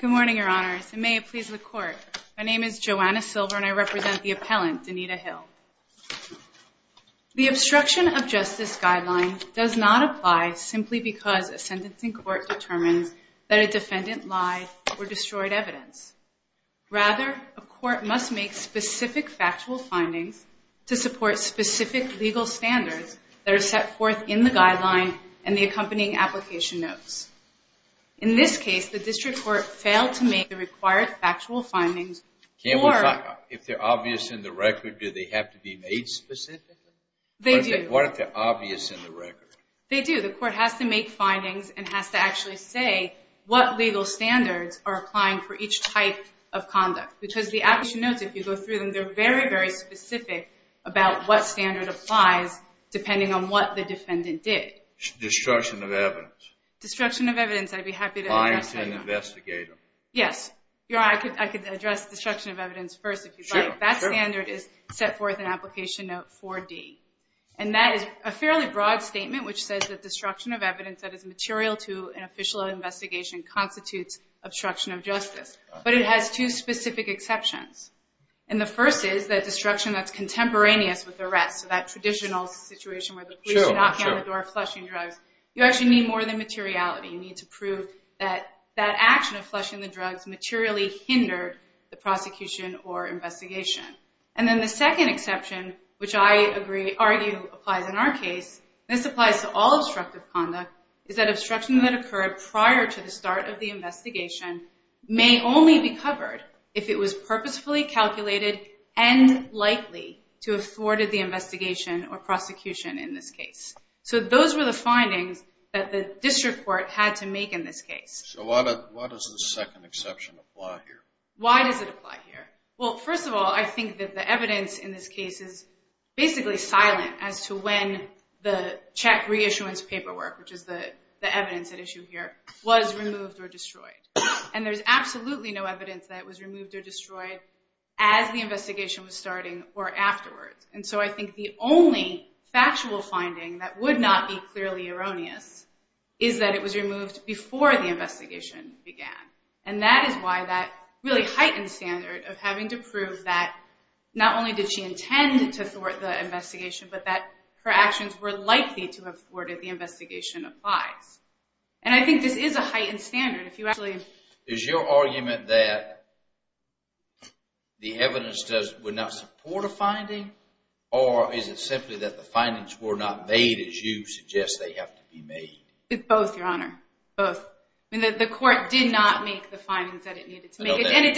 Good morning, your honors, and may it please the court. My name is Joanna Silver and I represent the appellant, Denita Hill. The obstruction of justice guideline does not apply simply because a sentencing court determines that a defendant lied or destroyed evidence. Rather, a court must make specific factual findings to support specific legal standards that are set forth in the guideline and the accompanying application notes. In this case, the district court failed to make the required factual findings. If they're obvious in the record, do they have to be made specific? They do. What if they're obvious in the record? They do. The court has to make findings and has to actually say what legal standards are applying for each type of conduct. Because the application notes, if you go through them, they're very, very specific about what standard applies depending on what the defendant did. Destruction of evidence. Destruction of evidence, I'd be happy to address that. Lying to an investigator. Yes. Your honor, I could address destruction of evidence first if you'd like. Sure, sure. That standard is set forth in application note 4D. And that is a fairly broad statement which says that destruction of evidence that is material to an official investigation constitutes obstruction of justice. But it has two specific exceptions. And the first is that destruction that's contemporaneous with the rest. So that traditional situation where the police are knocking on the door, flushing drugs. You actually need more than materiality. You need to prove that that action of flushing the drugs materially hindered the prosecution or investigation. And then the second exception, which I argue applies in our case, this applies to all obstructive conduct, is that obstruction that occurred prior to the start of the investigation may only be covered if it was purposefully calculated and likely to have thwarted the investigation or prosecution in this case. So those were the findings that the district court had to make in this case. So why does the second exception apply here? Why does it apply here? Well, first of all, I think that the evidence in this case is basically silent as to when the check reissuance paperwork, which is the evidence at issue here, was removed or destroyed. And there's absolutely no evidence that it was removed or destroyed as the investigation was starting or afterwards. And so I think the only factual finding that would not be clearly erroneous is that it was removed before the investigation began. And that is why that really heightened standard of having to prove that not only did she intend to thwart the investigation, but that her actions were likely to have thwarted the investigation applies. And I think this is a heightened standard. Is your argument that the evidence would not support a finding, or is it simply that the findings were not made as you suggest they have to be made? Both, Your Honor. Both. The court did not make the findings that it needed to make. And it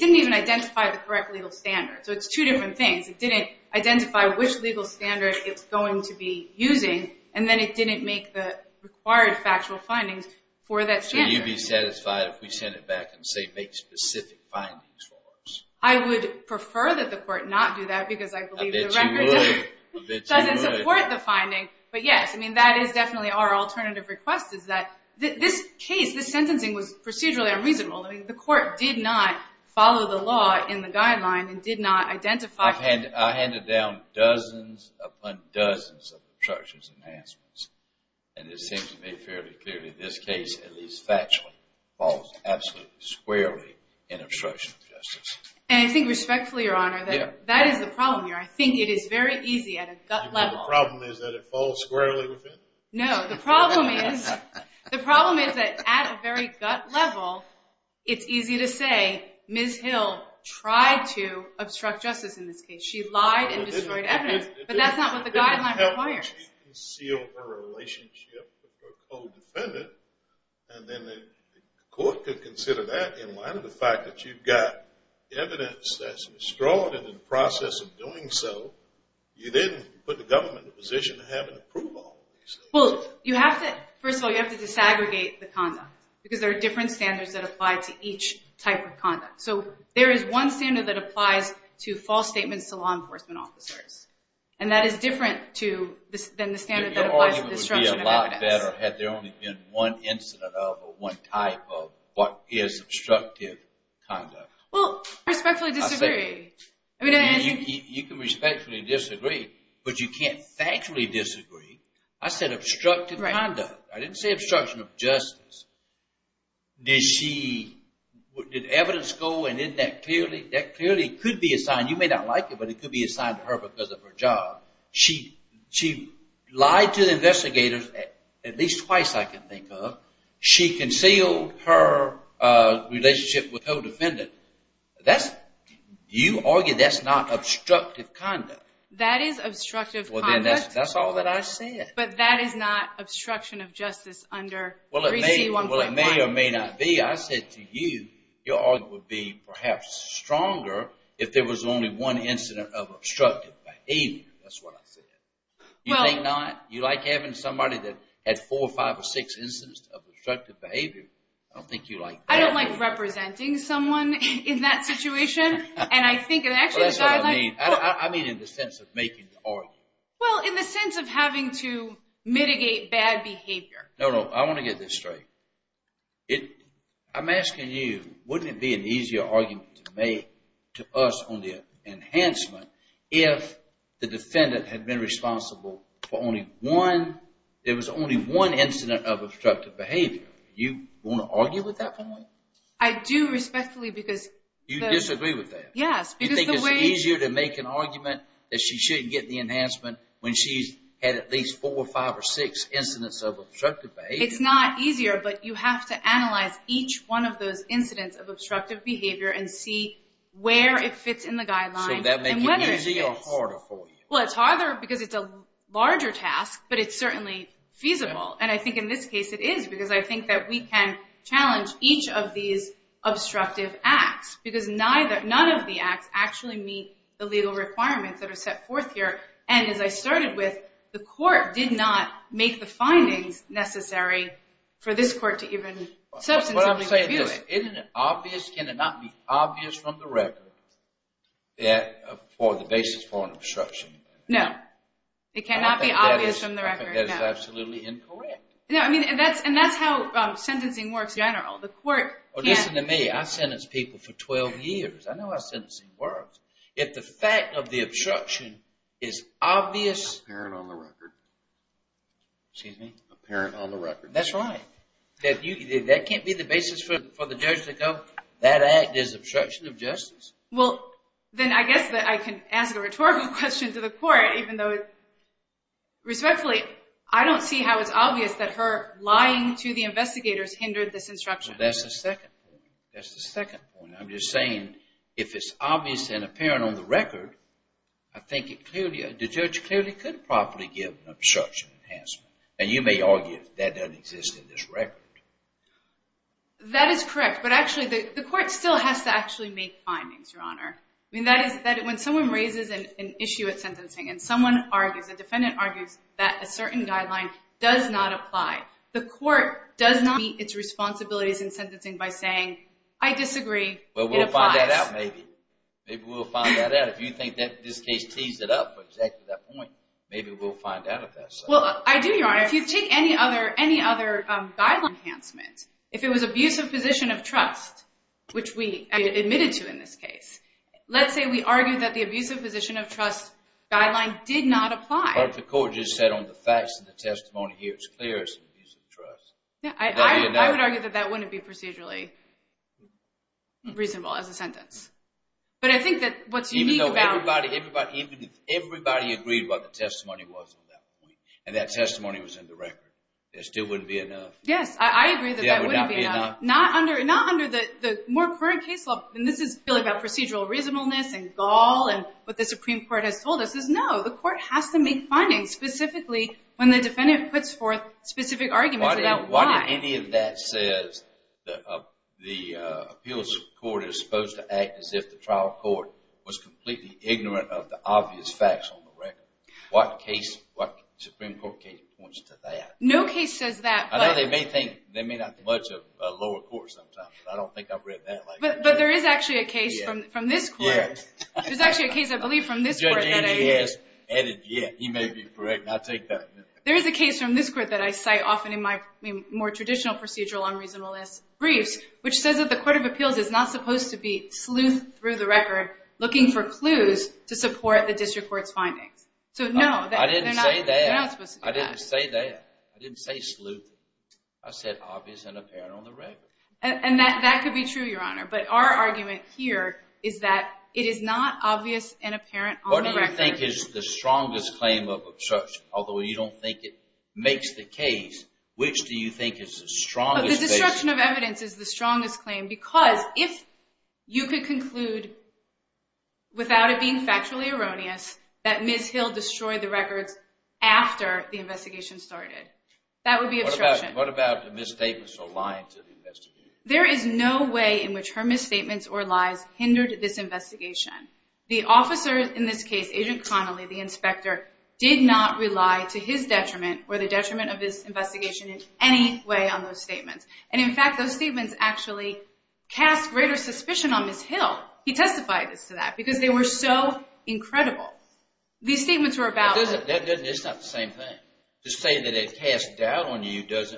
didn't even identify the correct legal standard. So it's two different things. It didn't identify which legal standard it's going to be using, and then it didn't make the required factual findings for that standard. So you'd be satisfied if we sent it back and say make specific findings for us? I would prefer that the court not do that because I believe the record doesn't support the finding. I bet you would. I bet you would. But yes, I mean, that is definitely our alternative request is that this case, this sentencing was procedurally unreasonable. I mean, the court did not follow the law in the guideline and did not identify. I handed down dozens upon dozens of obstructions and enhancements, and it seems to me fairly clearly this case, at least factually, falls absolutely squarely in obstruction of justice. And I think respectfully, Your Honor, that is the problem here. I think it is very easy at a gut level. You mean the problem is that it falls squarely within? No, the problem is that at a very gut level, it's easy to say Ms. Hill tried to obstruct justice in this case. She lied and destroyed evidence. But that's not what the guideline requires. She concealed her relationship with her co-defendant, and then the court could consider that in light of the fact that you've got evidence that's withdrawn, and in the process of doing so, you then put the government in a position of having approval. Well, you have to, first of all, you have to disaggregate the content because there are different standards that apply to each type of conduct. So there is one standard that applies to false statements to law enforcement officers, and that is different than the standard that applies to destruction of evidence. Your argument would be a lot better had there only been one incident of or one type of what is obstructive conduct. Well, respectfully disagree. You can respectfully disagree, but you can't factually disagree. I said obstructive conduct. I didn't say obstruction of justice. Did evidence go, and isn't that clearly could be assigned? You may not like it, but it could be assigned to her because of her job. She lied to the investigators at least twice, I can think of. She concealed her relationship with her co-defendant. Do you argue that's not obstructive conduct? That is obstructive conduct. Well, then that's all that I said. But that is not obstruction of justice under 3C1.1. Well, it may or may not be. I said to you, your argument would be perhaps stronger if there was only one incident of obstructive behavior. That's what I said. You think not? You like having somebody that had four, five, or six incidents of obstructive behavior? I don't think you like that. I don't like representing someone in that situation. And I think it actually is a guideline. That's what I mean. I mean in the sense of making the argument. Well, in the sense of having to mitigate bad behavior. No, no, I want to get this straight. I'm asking you, wouldn't it be an easier argument to make to us on the enhancement if the defendant had been responsible for only one, there was only one incident of obstructive behavior? You want to argue with that point? I do respectfully because the— You disagree with that? Yes, because the way— when she's had at least four, five, or six incidents of obstructive behavior. It's not easier, but you have to analyze each one of those incidents of obstructive behavior and see where it fits in the guideline and whether it fits. So that makes it easier or harder for you? Well, it's harder because it's a larger task, but it's certainly feasible. And I think in this case it is because I think that we can challenge each of these obstructive acts because none of the acts actually meet the legal requirements that are set forth here and, as I started with, the court did not make the findings necessary for this court to even substantively review it. What I'm saying is, isn't it obvious? Can it not be obvious from the record for the basis for an obstruction? No, it cannot be obvious from the record, no. I think that is absolutely incorrect. No, I mean, and that's how sentencing works in general. The court can't— Well, listen to me. I sentenced people for 12 years. I know how sentencing works. If the fact of the obstruction is obvious— Apparent on the record. Excuse me? Apparent on the record. That's right. That can't be the basis for the judge to go, that act is obstruction of justice. Well, then I guess that I can ask a rhetorical question to the court, even though, respectfully, I don't see how it's obvious that her lying to the investigators hindered this instruction. Well, that's the second point. That's the second point. I'm just saying if it's obvious and apparent on the record, I think the judge clearly could properly give an obstruction enhancement. Now, you may argue that that doesn't exist in this record. That is correct. But actually, the court still has to actually make findings, Your Honor. I mean, when someone raises an issue at sentencing and someone argues, a defendant argues that a certain guideline does not apply, the court does not meet its responsibilities in sentencing by saying, I disagree. It applies. Well, we'll find that out, maybe. Maybe we'll find that out. If you think that this case teased it up to exactly that point, maybe we'll find out if that's so. Well, I do, Your Honor. If you take any other guideline enhancement, if it was abusive position of trust, which we admitted to in this case, let's say we argue that the abusive position of trust guideline did not apply. But the court just said on the facts of the testimony here, it's clear it's an abusive trust. I would argue that that wouldn't be procedurally reasonable as a sentence. But I think that what's unique about – Even though everybody agreed what the testimony was on that point, and that testimony was in the record, there still wouldn't be enough. Yes, I agree that that wouldn't be enough. Not under the more current case law, and this is really about procedural reasonableness and gall and what the Supreme Court has told us, is no. The court has to make findings, specifically when the defendant puts forth specific arguments about why. Why did any of that says the appeals court is supposed to act as if the trial court was completely ignorant of the obvious facts on the record? What Supreme Court case points to that? No case says that, but – I know they may think – they may not much of a lower court sometimes, but I don't think I've read that like that. But there is actually a case from this court. There's actually a case, I believe, from this court. Yeah, he may be correct, and I'll take that. There is a case from this court that I cite often in my more traditional procedural unreasonableness briefs, which says that the court of appeals is not supposed to be sleuth through the record looking for clues to support the district court's findings. So, no, they're not supposed to do that. I didn't say that. I didn't say sleuth. I said obvious and apparent on the record. And that could be true, Your Honor, but our argument here is that it is not obvious and apparent on the record. What do you think is the strongest claim of obstruction, although you don't think it makes the case? Which do you think is the strongest case? The destruction of evidence is the strongest claim, because if you could conclude, without it being factually erroneous, that Ms. Hill destroyed the records after the investigation started, that would be obstruction. What about the misstatements or lying to the investigators? There is no way in which her misstatements or lies hindered this investigation. The officer in this case, Agent Connolly, the inspector, did not rely to his detriment or the detriment of this investigation in any way on those statements. And, in fact, those statements actually cast greater suspicion on Ms. Hill. He testified to that, because they were so incredible. These statements were about… It's not the same thing. To say that it cast doubt on you does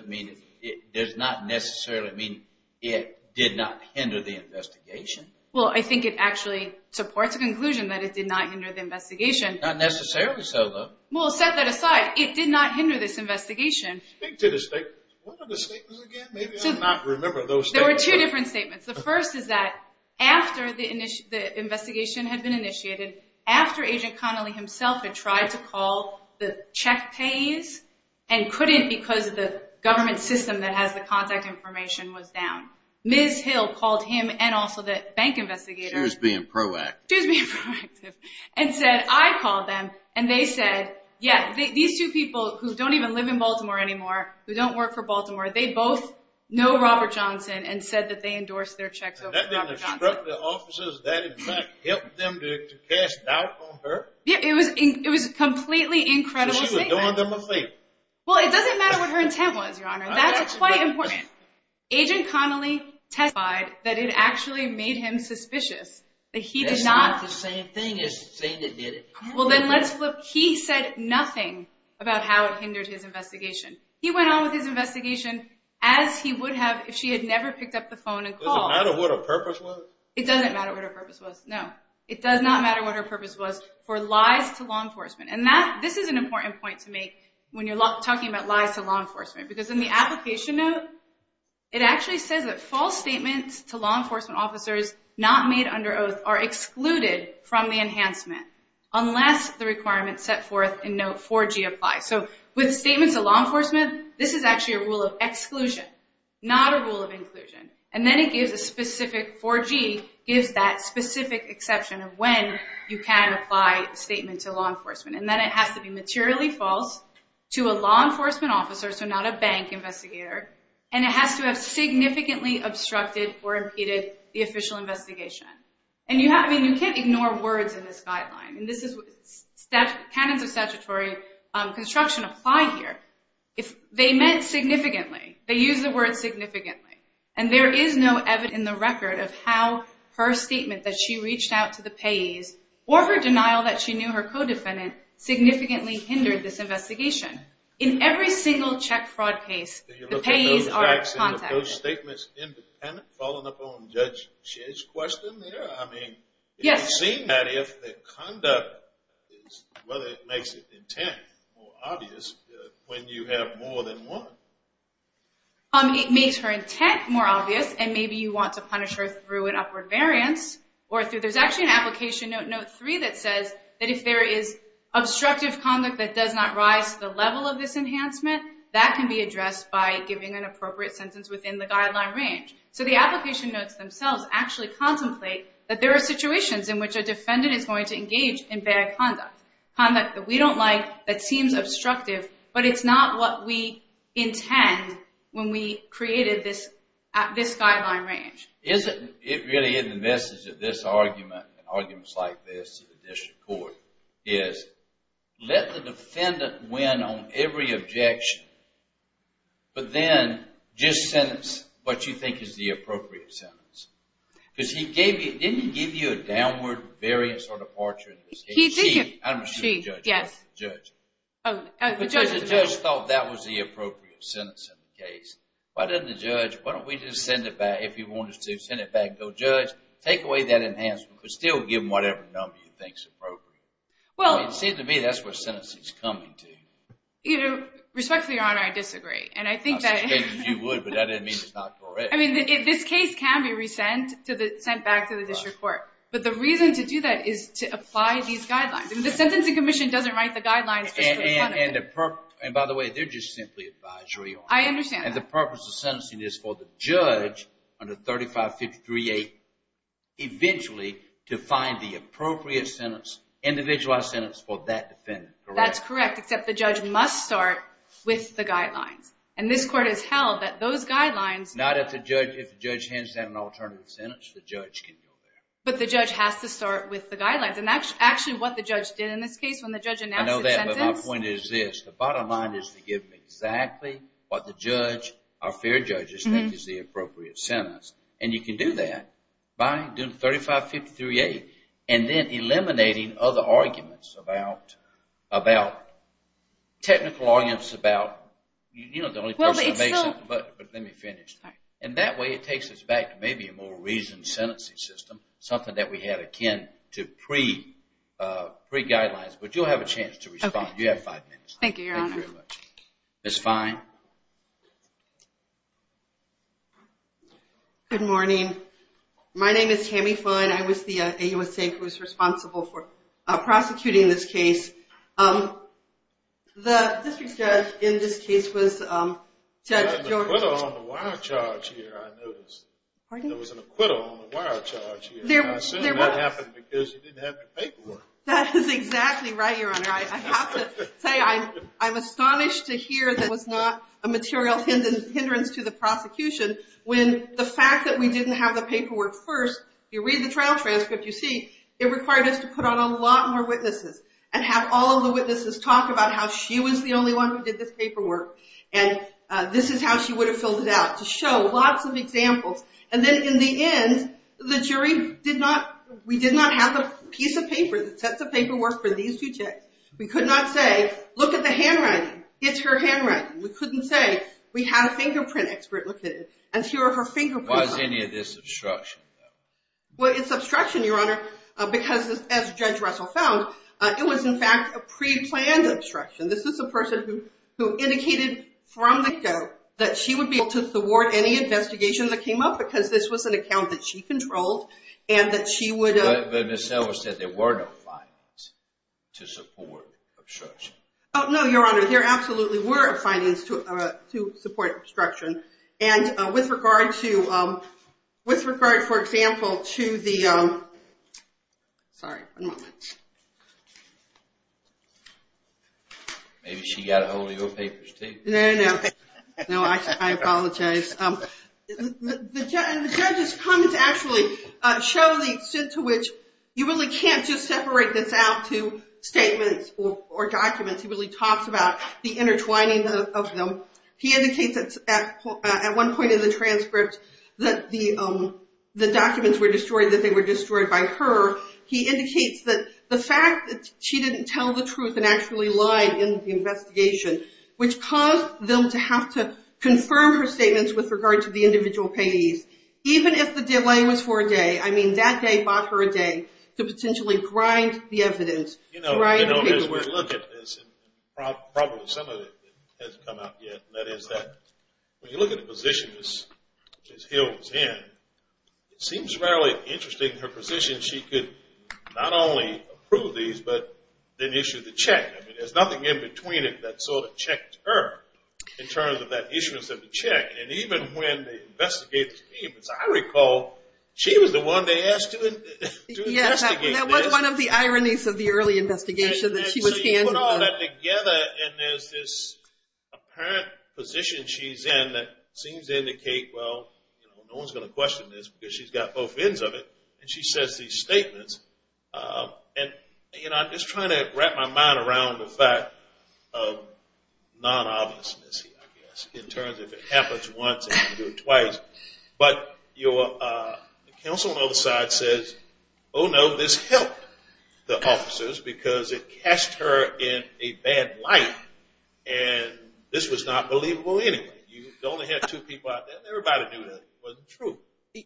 not necessarily mean it did not hinder the investigation. Well, I think it actually supports the conclusion that it did not hinder the investigation. Not necessarily so, though. Well, set that aside. It did not hinder this investigation. Speak to the statements. What are the statements again? Maybe I'm not remembering those statements. There were two different statements. The first is that after the investigation had been initiated, after Agent Connolly himself had tried to call the check pays and couldn't because the government system that has the contact information was down, Ms. Hill called him and also the bank investigators… She was being proactive. She was being proactive and said, I called them and they said, yeah, these two people who don't even live in Baltimore anymore, who don't work for Baltimore, they both know Robert Johnson and said that they endorsed their checks over to Robert Johnson. That in fact helped them to cast doubt on her? It was a completely incredible statement. So she was doing them a favor? Well, it doesn't matter what her intent was, Your Honor. That's quite important. Agent Connolly testified that it actually made him suspicious. That's not the same thing as saying it did it. Well, then let's flip. He said nothing about how it hindered his investigation. He went on with his investigation as he would have if she had never picked up the phone and called. It doesn't matter what her purpose was? It doesn't matter what her purpose was, no. It does not matter what her purpose was for lies to law enforcement. And this is an important point to make when you're talking about lies to law enforcement because in the application note, it actually says that false statements to law enforcement officers not made under oath are excluded from the enhancement unless the requirements set forth in note 4G apply. So with statements to law enforcement, this is actually a rule of exclusion, not a rule of inclusion. And then it gives a specific 4G, gives that specific exception of when you can apply a statement to law enforcement. And then it has to be materially false to a law enforcement officer, so not a bank investigator, and it has to have significantly obstructed or impeded the official investigation. And you can't ignore words in this guideline. And this is what canons of statutory construction apply here. If they meant significantly, they use the word significantly, and there is no evidence in the record of how her statement that she reached out to the payees or her denial that she knew her co-defendant significantly hindered this investigation. In every single check fraud case, the payees are contacted. Are those statements independent, following up on Judge Chish's question there? I mean, it would seem that if the conduct is, whether it makes it intent or obvious when you have more than one. It makes her intent more obvious, and maybe you want to punish her through an upward variance. There's actually an application note, note 3, that says that if there is obstructive conduct that does not rise to the level of this enhancement, that can be addressed by giving an appropriate sentence within the guideline range. So the application notes themselves actually contemplate that there are situations in which a defendant is going to engage in bad conduct, conduct that we don't like, that seems obstructive, but it's not what we intend when we created this guideline range. Isn't it really in the message of this argument, and arguments like this in the district court, is let the defendant win on every objection, but then just sentence what you think is the appropriate sentence. Because he gave you, didn't he give you a downward variance or departure in this case? She, I'm assuming the judge. Yes. The judge. Oh, the judge. Because the judge thought that was the appropriate sentence in the case. Why didn't the judge, why don't we just send it back, if he wanted to send it back, go judge, take away that enhancement, but still give him whatever number you think is appropriate. Well. It seems to me that's what sentencing is coming to. You know, respectfully, Your Honor, I disagree. I suspect that you would, but that doesn't mean it's not correct. I mean, this case can be sent back to the district court, but the reason to do that is to apply these guidelines. I mean, the sentencing commission doesn't write the guidelines. And by the way, they're just simply advisory, Your Honor. I understand that. And the purpose of sentencing is for the judge under 3553A, eventually, to find the appropriate sentence, individualized sentence for that defendant, correct? That's correct, except the judge must start with the guidelines. And this court has held that those guidelines. Not if the judge hands down an alternative sentence, the judge can go there. But the judge has to start with the guidelines. And actually, what the judge did in this case, when the judge announced the sentence. I know that, but my point is this. The bottom line is to give him exactly what the judge, our fair judges, think is the appropriate sentence. And you can do that by doing 3553A and then eliminating other arguments about technical arguments about, you know, the only person to make something, but let me finish. And that way it takes us back to maybe a more reasoned sentencing system, something that we had akin to pre-guidelines. But you'll have a chance to respond. You have five minutes. Thank you, Your Honor. Thank you very much. Ms. Fine? Good morning. My name is Tammy Fine. I was the AUSA who was responsible for prosecuting this case. The district judge in this case was Judge George. There was an acquittal on the wire charge here, I noticed. Pardon? There was an acquittal on the wire charge here. I assume that happened because you didn't have the paperwork. That is exactly right, Your Honor. I have to say I'm astonished to hear there was not a material hindrance to the prosecution when the fact that we didn't have the paperwork first, you read the trial transcript, you see, it required us to put on a lot more witnesses and have all of the witnesses talk about how she was the only one who did this paperwork and this is how she would have filled it out to show lots of examples. And then in the end, the jury did not, we did not have the piece of paper, the sets of paperwork for these two checks. We could not say, look at the handwriting. It's her handwriting. We couldn't say, we had a fingerprint expert look at it. And here are her fingerprints. Was any of this obstruction, though? Well, it's obstruction, Your Honor, because as Judge Russell found, it was in fact a preplanned obstruction. This is a person who indicated from the get-go that she would be able to thwart any investigation that came up because this was an account that she controlled and that she would have. But Ms. Silver said there were no findings to support obstruction. Oh, no, Your Honor. There absolutely were findings to support obstruction. And with regard to, with regard, for example, to the, sorry. One moment. Maybe she got ahold of your papers, too. No, no, no. No, I apologize. The judge's comments actually show the extent to which you really can't just separate this out to statements or documents. He really talks about the intertwining of them. He indicates at one point in the transcript that the documents were destroyed, that they were destroyed by her. He indicates that the fact that she didn't tell the truth and actually lied in the investigation, which caused them to have to confirm her statements with regard to the individual payees. Even if the delay was for a day, I mean, that day bought her a day to potentially grind the evidence. You know, as we look at this, and probably some of it hasn't come out yet, that is that when you look at the position Ms. Hill was in, it seems really interesting her position. She could not only approve these, but then issue the check. I mean, there's nothing in between it that sort of checked her in terms of that issuance of the check. And even when the investigators came, as I recall, she was the one they asked to investigate this. That was one of the ironies of the early investigation that she was handling. So you put all that together, and there's this apparent position she's in that seems to indicate, well, no one's going to question this because she's got both ends of it. And she says these statements. And, you know, I'm just trying to wrap my mind around the fact of non-obviousness, I guess, in terms of it happens once and you do it twice. But the counsel on the other side says, oh, no, this helped the officers because it cast her in a bad light, and this was not believable anyway. You only had two people out there, and everybody knew that. It wasn't true.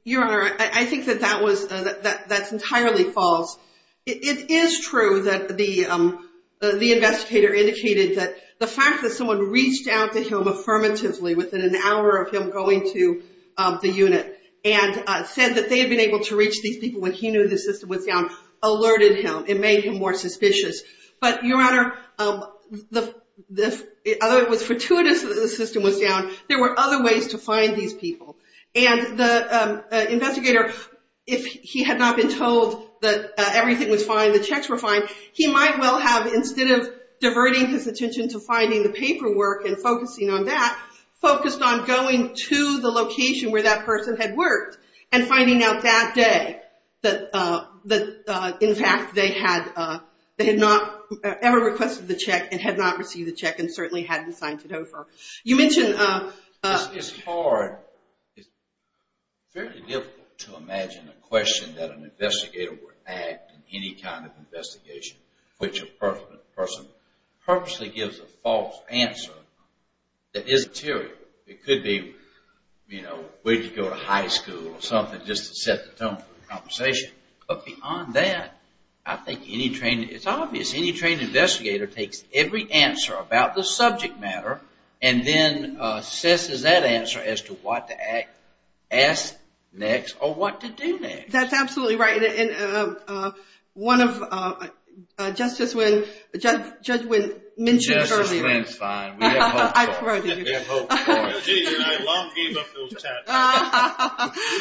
Your Honor, I think that that's entirely false. It is true that the investigator indicated that the fact that someone reached out to him affirmatively within an hour of him going to the unit and said that they had been able to reach these people when he knew the system was down, alerted him and made him more suspicious. But, Your Honor, although it was fortuitous that the system was down, there were other ways to find these people. And the investigator, if he had not been told that everything was fine, the checks were fine, he might well have, instead of diverting his attention to finding the paperwork and focusing on that, focused on going to the location where that person had worked and finding out that day that, in fact, they had not ever requested the check and had not received the check and certainly hadn't signed it over. It's hard. It's very difficult to imagine a question that an investigator would add in any kind of investigation in which a person purposely gives a false answer that is material. It could be, you know, where did you go to high school or something just to set the tone for the conversation. But beyond that, I think any trained, it's obvious, any trained investigator takes every answer about the subject matter and then assesses that answer as to what to ask next or what to do next. That's absolutely right. And one of Justice Wynne, Judge Wynne mentioned earlier. Justice Wynne's fine. We have hope for her. We have hope for her. She and I long gave up those checks.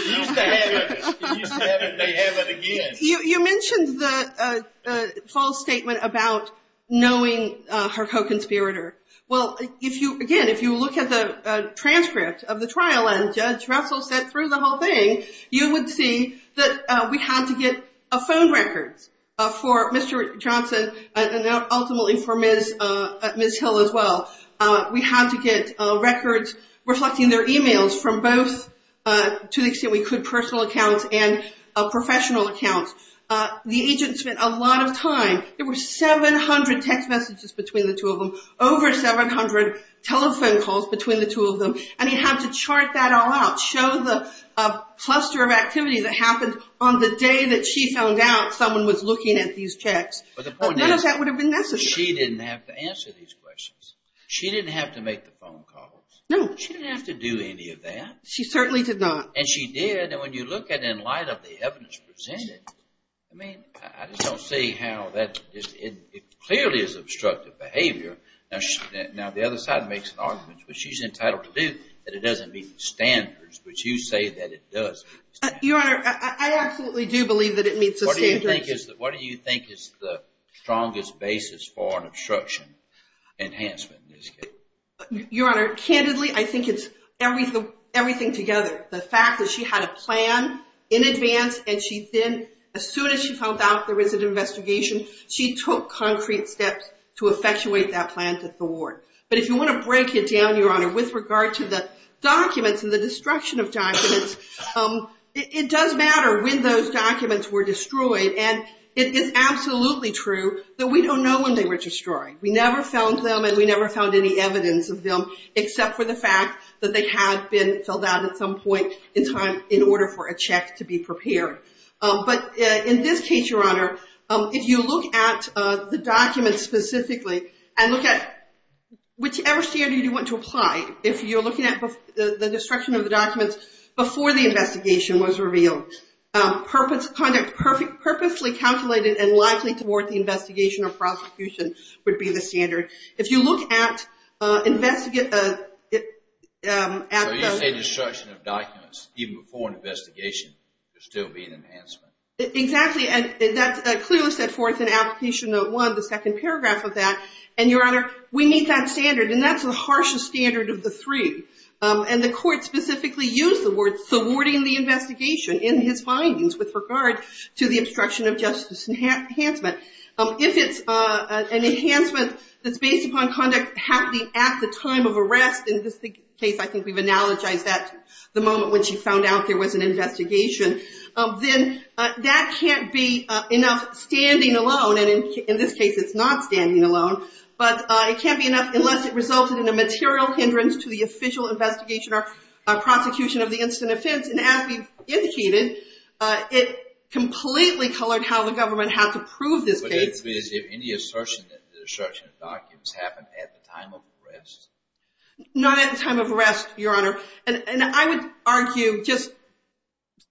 We used to have it. We used to have it. They have it again. You mentioned the false statement about knowing her co-conspirator. Well, again, if you look at the transcript of the trial and Judge Russell sent through the whole thing, you would see that we had to get phone records for Mr. Johnson and ultimately for Ms. Hill as well. We had to get records reflecting their e-mails from both, to the extent we could, personal accounts and professional accounts. The agents spent a lot of time. There were 700 text messages between the two of them, over 700 telephone calls between the two of them, and he had to chart that all out, show the cluster of activities that happened on the day that she found out someone was looking at these checks. None of that would have been necessary. She didn't have to answer these questions. She didn't have to make the phone calls. No. She didn't have to do any of that. She certainly did not. And she did. And when you look at it in light of the evidence presented, Now, the other side makes an argument, which she's entitled to do, that it doesn't meet the standards, which you say that it does. Your Honor, I absolutely do believe that it meets the standards. What do you think is the strongest basis for an obstruction enhancement? Your Honor, candidly, I think it's everything together. The fact that she had a plan in advance, and as soon as she found out there was an investigation, she took concrete steps to effectuate that plan to the ward. But if you want to break it down, Your Honor, with regard to the documents and the destruction of documents, it does matter when those documents were destroyed. And it is absolutely true that we don't know when they were destroyed. We never found them, and we never found any evidence of them, except for the fact that they had been filled out at some point in time in order for a check to be prepared. But in this case, Your Honor, if you look at the documents specifically and look at whichever standard you want to apply, if you're looking at the destruction of the documents before the investigation was revealed, conduct purposely calculated and likely toward the investigation or prosecution would be the standard. If you look at the investigation of documents even before an investigation, there would still be an enhancement. Exactly, and that's clearly set forth in Application Note 1, the second paragraph of that. And, Your Honor, we meet that standard, and that's the harshest standard of the three. And the court specifically used the word thwarting the investigation in his findings with regard to the obstruction of justice enhancement. If it's an enhancement that's based upon conduct happening at the time of arrest, in this case I think we've analogized that to the moment when she found out there was an investigation, then that can't be enough standing alone, and in this case it's not standing alone, but it can't be enough unless it resulted in a material hindrance to the official investigation or prosecution of the incident offense. And as we've indicated, it completely colored how the government had to prove this case. But is there any assertion that the destruction of documents happened at the time of arrest? Not at the time of arrest, Your Honor. And I would argue just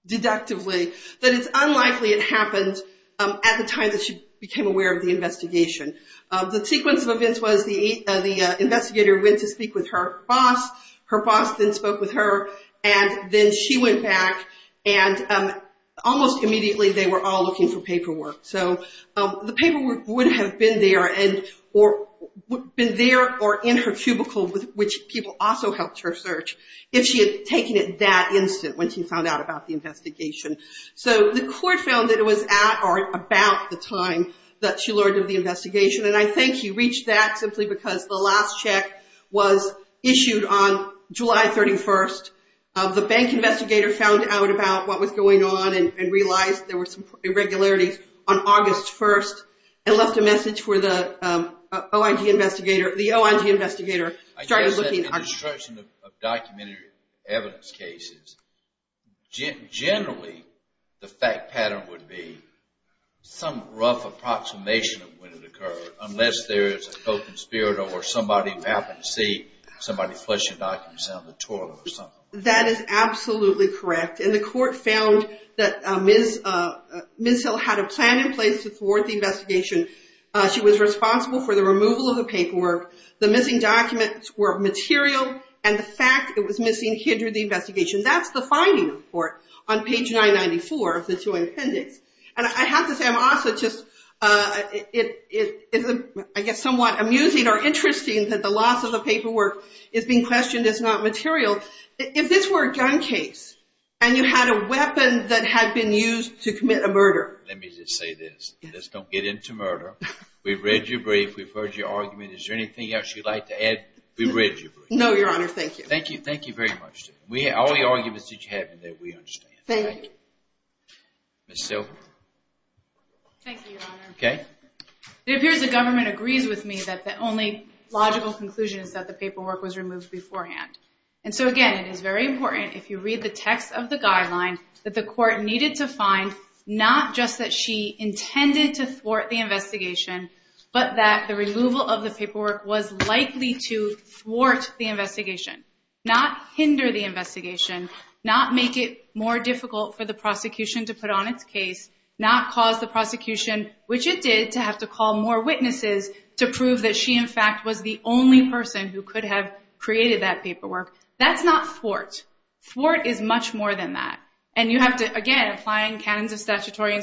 deductively that it's unlikely it happened at the time that she became aware of the investigation. The sequence of events was the investigator went to speak with her boss, her boss then spoke with her, and then she went back, and almost immediately they were all looking for paperwork. So the paperwork would have been there or in her cubicle, which people also helped her search, if she had taken it that instant when she found out about the investigation. So the court found that it was at or about the time that she learned of the investigation, and I think she reached that simply because the last check was issued on July 31st. The bank investigator found out about what was going on and realized there were some irregularities on August 1st and left a message for the OIG investigator. I guess that the destruction of documentary evidence cases, generally the fact pattern would be some rough approximation of when it occurred, unless there is a co-conspirator or somebody happened to see somebody flushing documents down the toilet or something. That is absolutely correct, and the court found that Ms. Hill had a plan in place to thwart the investigation. She was responsible for the removal of the paperwork, the missing documents were material, and the fact it was missing hindered the investigation. That's the finding of the court on page 994 of the joint appendix. And I have to say, I'm also just, it is somewhat amusing or interesting that the loss of the paperwork is being questioned as not material. If this were a gun case, and you had a weapon that had been used to commit a murder. Let me just say this, let's don't get into murder. We've read your brief, we've heard your argument, is there anything else you'd like to add? We read your brief. No, Your Honor, thank you. Thank you very much. All the arguments that you have in there, we understand. Thank you. Ms. Silver? Thank you, Your Honor. Okay. It appears the government agrees with me that the only logical conclusion is that the paperwork was removed beforehand. And so again, it is very important if you read the text of the guideline that the court needed to find, not just that she intended to thwart the investigation, but that the removal of the paperwork was likely to thwart the investigation, not hinder the investigation, not make it more difficult for the prosecution to put on its case, not cause the prosecution, which it did, to have to call more witnesses to prove that she in fact was the only person who could have created that paperwork. That's not thwart. Thwart is much more than that. And you have to, again, applying canons of statutory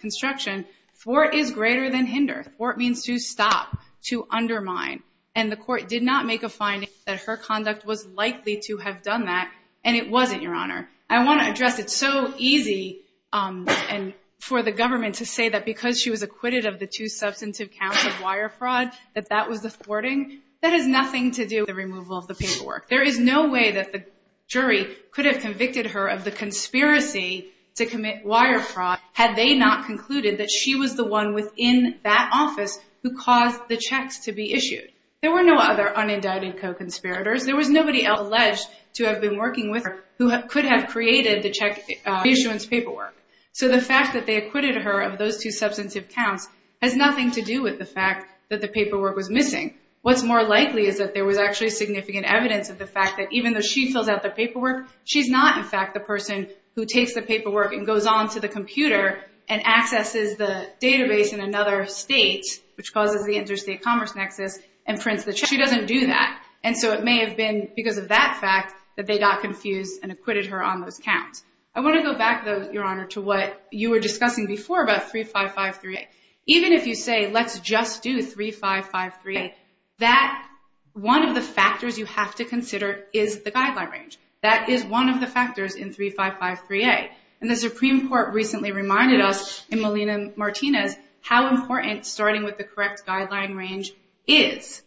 construction, thwart is greater than hinder. Thwart means to stop, to undermine. And the court did not make a finding that her conduct was likely to have done that, and it wasn't, Your Honor. I want to address it's so easy for the government to say that because she was acquitted of the two substantive counts of wire fraud, that that was the thwarting. That has nothing to do with the removal of the paperwork. There is no way that the jury could have convicted her of the conspiracy to commit wire fraud had they not concluded that she was the one within that office who caused the checks to be issued. There were no other unindicted co-conspirators. There was nobody else alleged to have been working with her who could have created the check issuance paperwork. So the fact that they acquitted her of those two substantive counts has nothing to do with the fact that the paperwork was missing. What's more likely is that there was actually significant evidence of the fact that even though she fills out the paperwork, she's not in fact the person who takes the paperwork and goes on to the computer and accesses the database in another state, which causes the interstate commerce nexus, and prints the check. She doesn't do that. And so it may have been because of that fact that they got confused and acquitted her on those counts. I want to go back, though, Your Honor, to what you were discussing before about 3553A. Even if you say let's just do 3553A, that one of the factors you have to consider is the guideline range. That is one of the factors in 3553A. And the Supreme Court recently reminded us in Molina-Martinez how important starting with the correct guideline range is.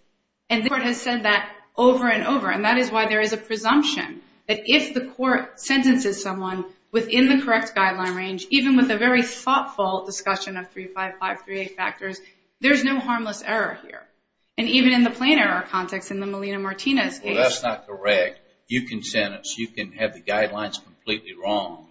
And the court has said that over and over, and that is why there is a presumption that if the court sentences someone within the correct guideline range, even with a very thoughtful discussion of 3553A factors, there's no harmless error here. And even in the plain error context in the Molina-Martinez case. Well, that's not correct. You can sentence, you can have the guidelines completely wrong,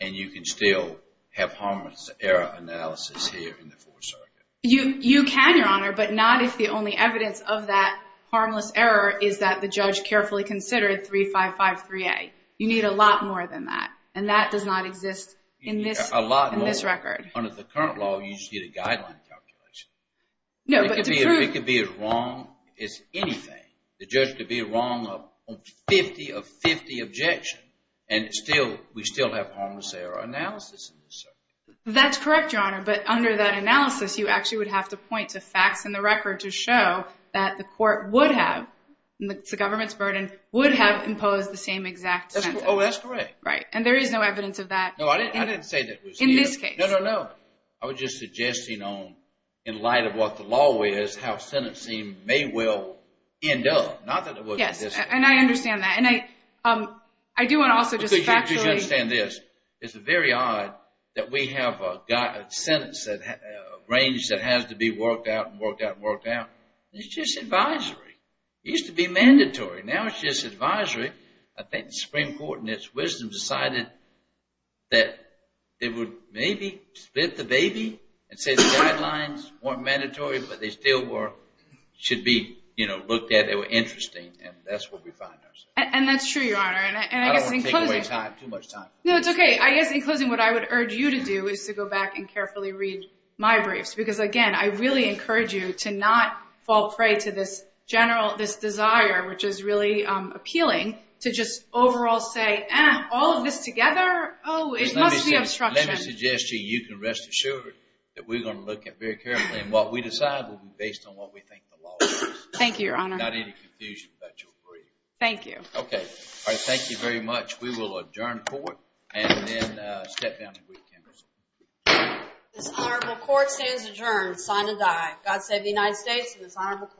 and you can still have harmless error analysis here in the Fourth Circuit. You can, Your Honor, but not if the only evidence of that harmless error is that the judge carefully considered 3553A. You need a lot more than that. And that does not exist in this record. You need a lot more. Under the current law, you just need a guideline calculation. No, but the truth. It could be as wrong as anything. The judge could be wrong on 50 of 50 objections, and we still have harmless error analysis in this circuit. That's correct, Your Honor, but under that analysis, you actually would have to point to facts in the record to show that the court would have, and it's the government's burden, would have imposed the same exact sentence. Oh, that's correct. Right, and there is no evidence of that. No, I didn't say that. In this case. No, no, no. I was just suggesting in light of what the law is, how sentencing may well end up. Yes, and I understand that. And I do want to also just factually. You should understand this. It's very odd that we have a sentence, a range that has to be worked out and worked out and worked out. It's just advisory. It used to be mandatory. Now it's just advisory. I think the Supreme Court, in its wisdom, decided that it would maybe split the baby and say the guidelines weren't mandatory, but they still should be looked at. They were interesting, and that's what we find ourselves. And that's true, Your Honor. I don't want to take away too much time. No, it's okay. I guess in closing, what I would urge you to do is to go back and carefully read my briefs, because, again, I really encourage you to not fall prey to this desire, which is really appealing, to just overall say, eh, all of this together, oh, it must be obstruction. Let me suggest to you, you can rest assured, that we're going to look at it very carefully. And what we decide will be based on what we think the law is. Thank you, Your Honor. Not any confusion about your brief. Thank you. Okay. All right, thank you very much. We will adjourn court and then step down to brief counsel. This honorable court stands adjourned, sign and die. God save the United States and this honorable court.